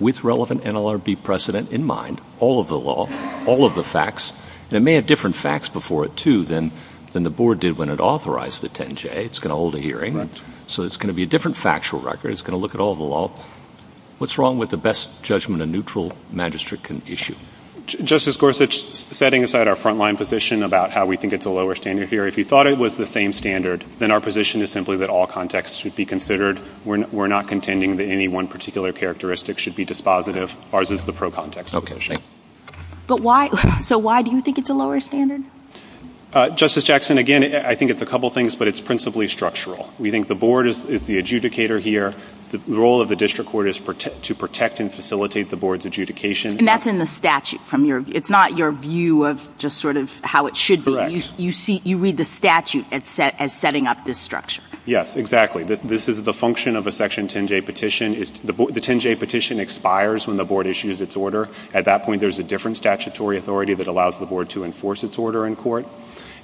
with relevant NLRB precedent in mind, all of the law, all of the facts? They may have different facts before it, too, than the board did when it authorized the 10-J. It's going to hold a hearing. MR. ZUCKERBERG. Right. MR. BOUTROUS. So it's going to be a different factual record. It's going to look at all the law. What's wrong with the best judgment a neutral magistrate can issue? MR. ZUCKERBERG. Justice Gorsuch, setting aside our front-line position about how we think it's a lower standard here, if you thought it was the same standard, then our position is simply that all context should be considered. We're not contending that any one particular characteristic should be dispositive. Ours is the pro-context position. MR. BOUTROUS. Okay. But why, so why do you think it's a lower standard? MR. ZUCKERBERG. Justice Jackson, again, I think it's a couple things, but it's principally structural. We think the board is the adjudicator here. The role of the district court is to protect and facilitate the board's adjudication. MR. BOUTROUS. And that's in the statute from your, it's not your view of just sort of how it should be. MR. ZUCKERBERG. Correct. MR. BOUTROUS. You see, you read the statute as setting up this structure. MR. ZUCKERBERG. Yes, exactly. This is the function of a section 10-J petition. The 10-J petition expires when the board issues its order. At that point, there's a different allows the board to enforce its order in court.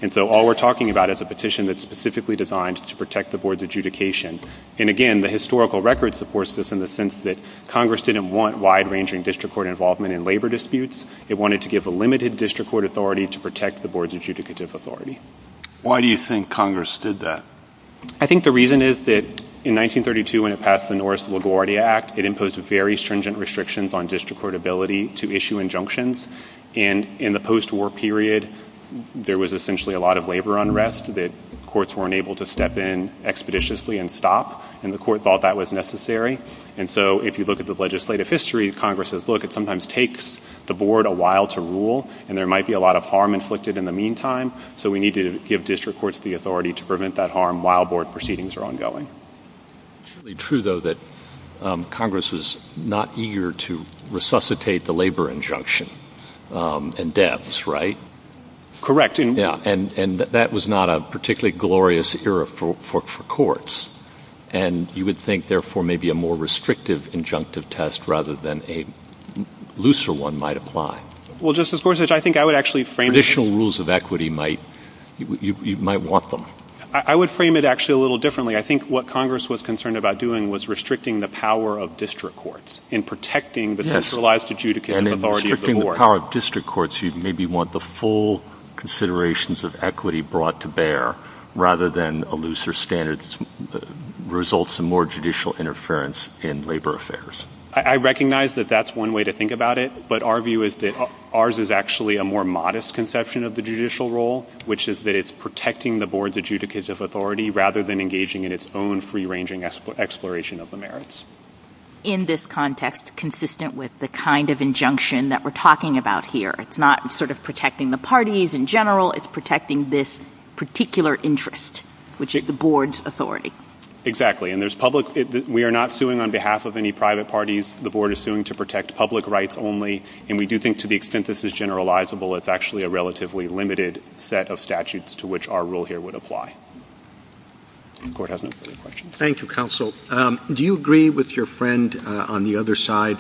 And so all we're talking about is a petition that's specifically designed to protect the board's adjudication. And again, the historical record supports this in the sense that Congress didn't want wide-ranging district court involvement in labor disputes. It wanted to give a limited district court authority to protect the board's adjudicative authority. MR. BOUTROUS. Why do you think Congress did that? MR. ZUCKERBERG. I think the reason is that in 1932, when it passed the Norris LaGuardia Act, it imposed very stringent restrictions on district court ability to issue injunctions. And in the postwar period, there was essentially a lot of labor unrest that courts weren't able to step in expeditiously and stop, and the court thought that was necessary. And so if you look at the legislative history of Congress, look, it sometimes takes the board a while to rule, and there might be a lot of harm inflicted in the meantime. So we need to give district courts the authority to prevent that harm while board proceedings are ongoing. MR. BOUTROUS. It's certainly true, though, that Congress was not eager to resuscitate the labor injunction in Debs, right? MR. ZUCKERBERG. Correct. MR. BOUTROUS. Yeah, and that was not a particularly glorious era for courts, and you would think therefore maybe a more restrictive injunctive test rather than a looser one might apply. MR. ZUCKERBERG. Well, Justice Gorsuch, I think I would actually frame it as— MR. BOUTROUS. Traditional rules of equity might — you might want them. MR. ZUCKERBERG. I would frame it actually a little differently. I think what Congress was concerned about doing was restricting the power of district courts in protecting the centralized adjudicative authority of the board. MR. BOUTROUS. Yes, and in restricting the power of district courts, you'd maybe want the full considerations of equity brought to bear rather than a looser standard that results in more judicial interference in labor affairs. MR. ZUCKERBERG. I recognize that that's one way to think about it, but our view is that ours is actually a more modest conception of the judicial role, which is that it's protecting the board's adjudicative authority rather than engaging in its own free-ranging exploration of the merits. MS. MCCAFFERTY. In this context, consistent with the kind of injunction that we're talking about here, it's not sort of protecting the parties in general, it's protecting this particular interest, which is the board's authority. MR. ZUCKERBERG. Exactly, and there's public — we are not suing on behalf of any private parties. The board is suing to protect public rights only, and we do think to the extent this is generalizable, it's actually a relatively limited set of statutes to which our rule here would apply. The Court has no further questions. CHIEF JUSTICE ROBERTS. Thank you, counsel. Do you agree with your friend on the other side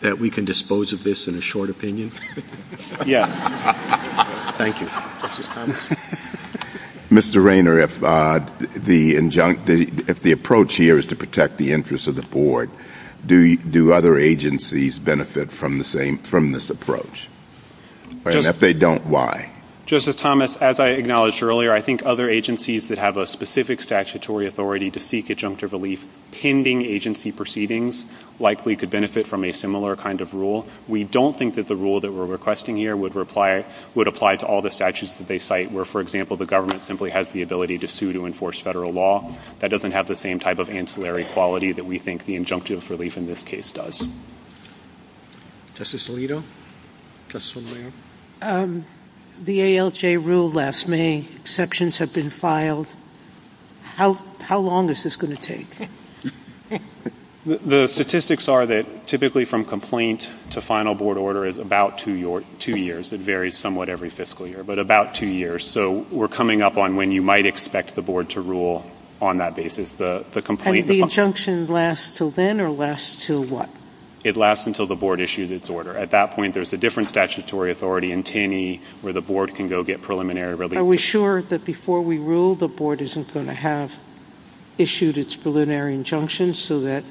that we can dispose of this in a short opinion? MR. ZUCKERBERG. Yes. CHIEF JUSTICE ROBERTS. Thank you. MR. RAYNOR. Justice Thomas. CHIEF JUSTICE THOMAS. Mr. Raynor, if the approach here is to protect the interests of the board, do other agencies benefit from the same — from this approach? And if they don't, why? MR. RAYNOR. Justice Thomas, as I acknowledged earlier, I think other agencies that have a specific statutory authority to seek injunctive relief pending agency proceedings likely could benefit from a similar kind of rule. We don't think that the rule that we're requesting here would apply to all the statutes that they cite, where, for example, the government simply has the ability to sue to enforce federal law. That doesn't have the same type of ancillary quality that we think the injunctive relief in this case does. CHIEF JUSTICE ROBERTS. Justice Alito. MR. ALITO. The ALJ rule last May, exceptions have been filed. How long is this going to take? MR. RAYNOR. The statistics are that typically from complaint to final board order is about two years. It varies somewhat every fiscal year, but about two years. So we're coming up on when you might expect the board to rule on that basis. The complaint — CHIEF JUSTICE ROBERTS. Does the injunction last until then, or last until what? MR. RAYNOR. It lasts until the board issues its order. At that point, there's a different statutory authority in TINI where the board can go get preliminary relief. CHIEF JUSTICE ROBERTS. Are we sure that before we rule, the board isn't going to have issued its preliminary injunction so that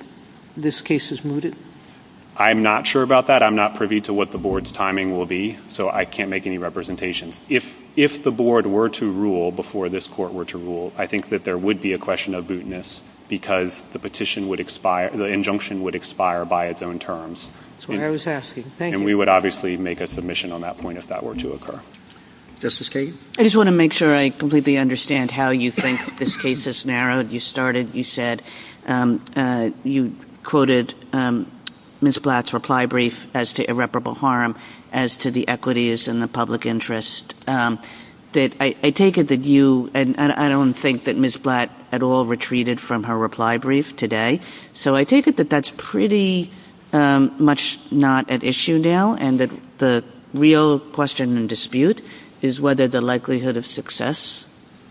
this case is mooted? MR. RAYNOR. I'm not sure about that. I'm not privy to what the board's timing will be, so I can't make any representations. If the board were to rule before this court were to rule, I think that there would be a question of bootiness because the petition would expire — the injunction would expire by its own terms. CHIEF JUSTICE ROBERTS. That's what I was asking. Thank you. MR. RAYNOR. And we would obviously make a submission on that point if that were to occur. CHIEF JUSTICE ROBERTS. Justice Kagan? JUSTICE KAGAN. I just want to make sure I completely understand how you think this case is narrowed. You started — you said — you quoted Ms. Blatt's reply brief as to irreparable I don't think that Ms. Blatt at all retreated from her reply brief today. So I take it that that's pretty much not at issue now and that the real question and dispute is whether the likelihood of success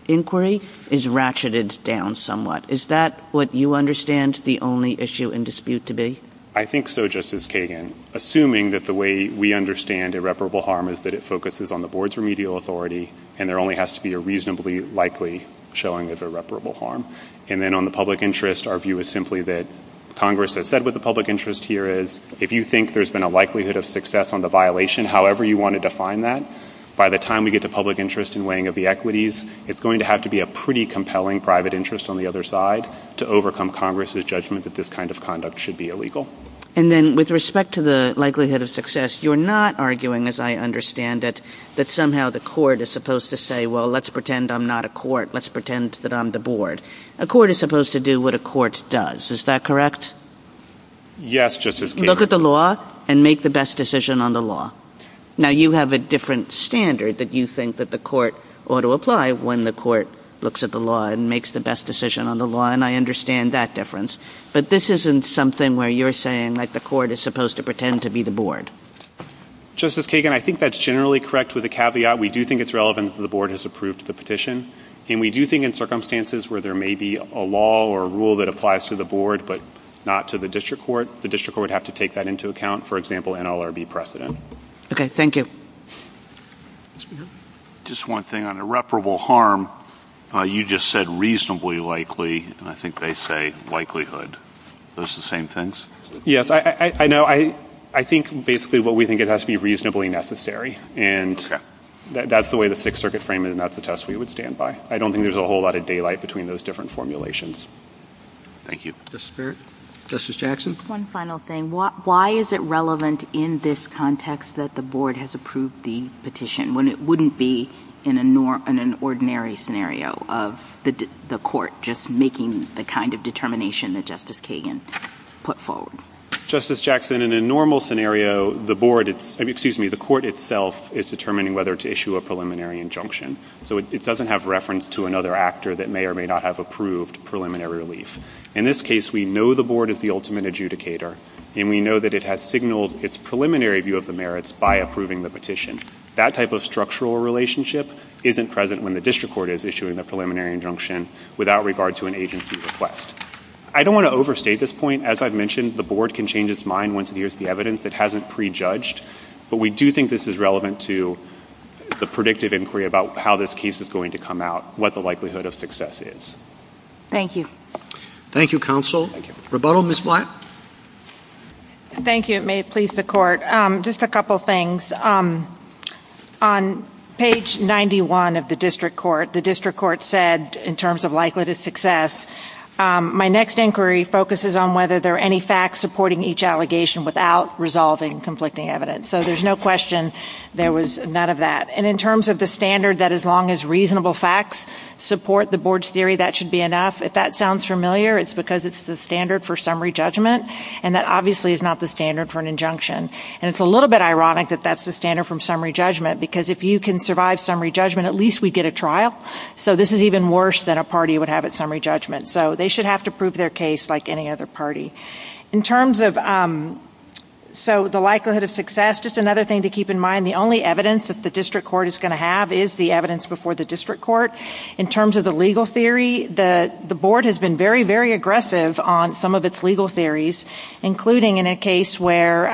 inquiry is ratcheted down somewhat. Is that what you understand the only issue and dispute to be? MR. RAYNOR. I think so, Justice Kagan, assuming that the way we understand irreparable harm is that it focuses on the board's remedial authority and there only has to be a reasonably likely showing of irreparable harm. And then on the public interest, our view is simply that Congress has said what the public interest here is. If you think there's been a likelihood of success on the violation, however you want to define that, by the time we get to public interest in weighing of the equities, it's going to have to be a pretty compelling private interest on the other side to overcome Congress's judgment that this kind of conduct should be illegal. JUSTICE KAGAN. And then with respect to the likelihood of success, you're not arguing, as I understand it, that somehow the court is supposed to say, well, let's pretend I'm not a court. Let's pretend that I'm the board. A court is supposed to do what a court does. Is that correct? MR. RAYNOR. Yes, Justice Kagan. JUSTICE KAGAN. Look at the law and make the best decision on the law. Now, you have a different standard that you think that the court ought to apply when the court looks at the law and makes the best decision on the law, and I understand that difference. But this isn't something where you're saying, like, the court is supposed to pretend to be the board. MR. RAYNOR. Justice Kagan, I think that's generally correct with a caveat. We do think it's relevant that the board has approved the petition, and we do think in circumstances where there may be a law or a rule that applies to the board but not to the district court, the district court would have to take that into account, for example, NLRB precedent. JUSTICE GINSBURG. Okay. Thank you. MR. RAYNOR. Just one thing. On irreparable harm, you just said reasonably likely, and I think they say likelihood. Are those the same things? MR. RAYNOR. Yes. I know. I think basically what we think it has to be reasonably necessary, and that's the way the Sixth Circuit framed it, and that's the test we would stand by. I don't think there's a whole lot of daylight between those different formulations. MR. RAYNOR. Thank you. JUSTICE BARRETT. Justice Barrett. MR. RAYNOR. Justice Jackson. JUSTICE JACKSON. One final thing. Why is it relevant in this context that the board has approved the petition when it wouldn't be in an ordinary scenario of the court just making the kind of determination that Justice Kagan put forward? MR. RAYNOR. Justice Jackson, in a normal scenario, the court itself is determining whether to issue a preliminary injunction. So it doesn't have reference to another actor that may or may not have approved preliminary relief. In this case, we know the board is the ultimate adjudicator, and we know that it has signaled its preliminary view of the merits by approving the petition. That type of structural relationship isn't present when the district court is issuing a preliminary injunction without regard to an agency request. I don't want to overstate this point. As I've mentioned, the board can change its mind once it hears the evidence. It hasn't prejudged. But we do think this is relevant to the predictive inquiry about how this case is going to come out, what the likelihood of success is. JUSTICE BARRETT. Thank you. CHIEF JUSTICE ROBERTS. Thank you, counsel. MR. RAYNOR. Thank you. CHIEF JUSTICE ROBERTS. Rebuttal, Ms. Black. MS. BLACK. Thank you. It may please the court. Just a couple things. On page 91 of the district court, the district court said, in terms of likelihood of success, my next inquiry focuses on whether there are any facts supporting each allegation without resolving conflicting evidence. So there's no question there was none of that. And in terms of the standard that as long as reasonable facts support the board's theory that should be enough, if that sounds familiar, it's because it's the standard for summary judgment, and that obviously is not the standard for an injunction. And it's a little bit ironic that that's the standard for summary judgment, because if you can survive summary judgment, at least we'd get a trial. So this is even worse than a party would have at summary judgment. So they should have to prove their case like any other party. In terms of the likelihood of success, just another thing to keep in mind, the only evidence that the district court is going to have is the evidence before the district court. In terms of the legal theory, the board has been very, very aggressive on some of its legal theories, including in a case where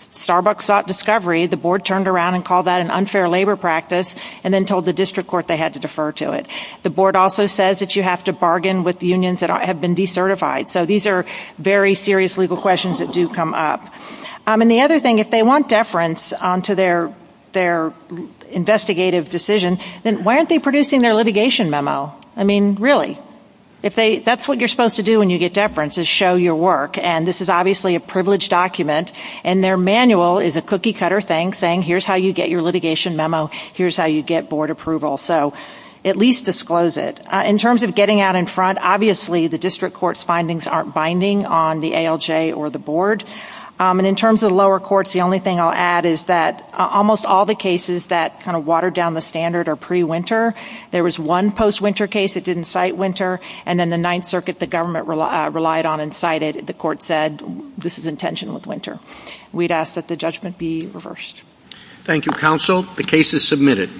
Starbucks sought discovery, the board turned around and called that an unfair labor practice, and then told the district court they had to defer to it. The board also says that you have to bargain with unions that have been decertified. So these are very serious legal questions that do come up. And the other thing, if they want deference onto their investigative decision, then why aren't they producing their litigation memo? I mean, really? That's what you're supposed to do when you get deference, is show your work. And this is obviously a privileged document, and their manual is a cookie-cutter thing saying here's how you get your litigation memo, here's how you get board approval. So at least disclose it. In terms of getting out in front, obviously the district court's findings aren't binding on the ALJ or the board. And in terms of the lower courts, the only thing I'll add is that almost all the cases that kind of watered down the standard are pre-winter. There was one post-winter case that didn't cite winter, and then the Ninth Circuit the government relied on and cited, the court said this is intentional with winter. We'd ask that the judgment be reversed. Thank you, counsel. The case is submitted.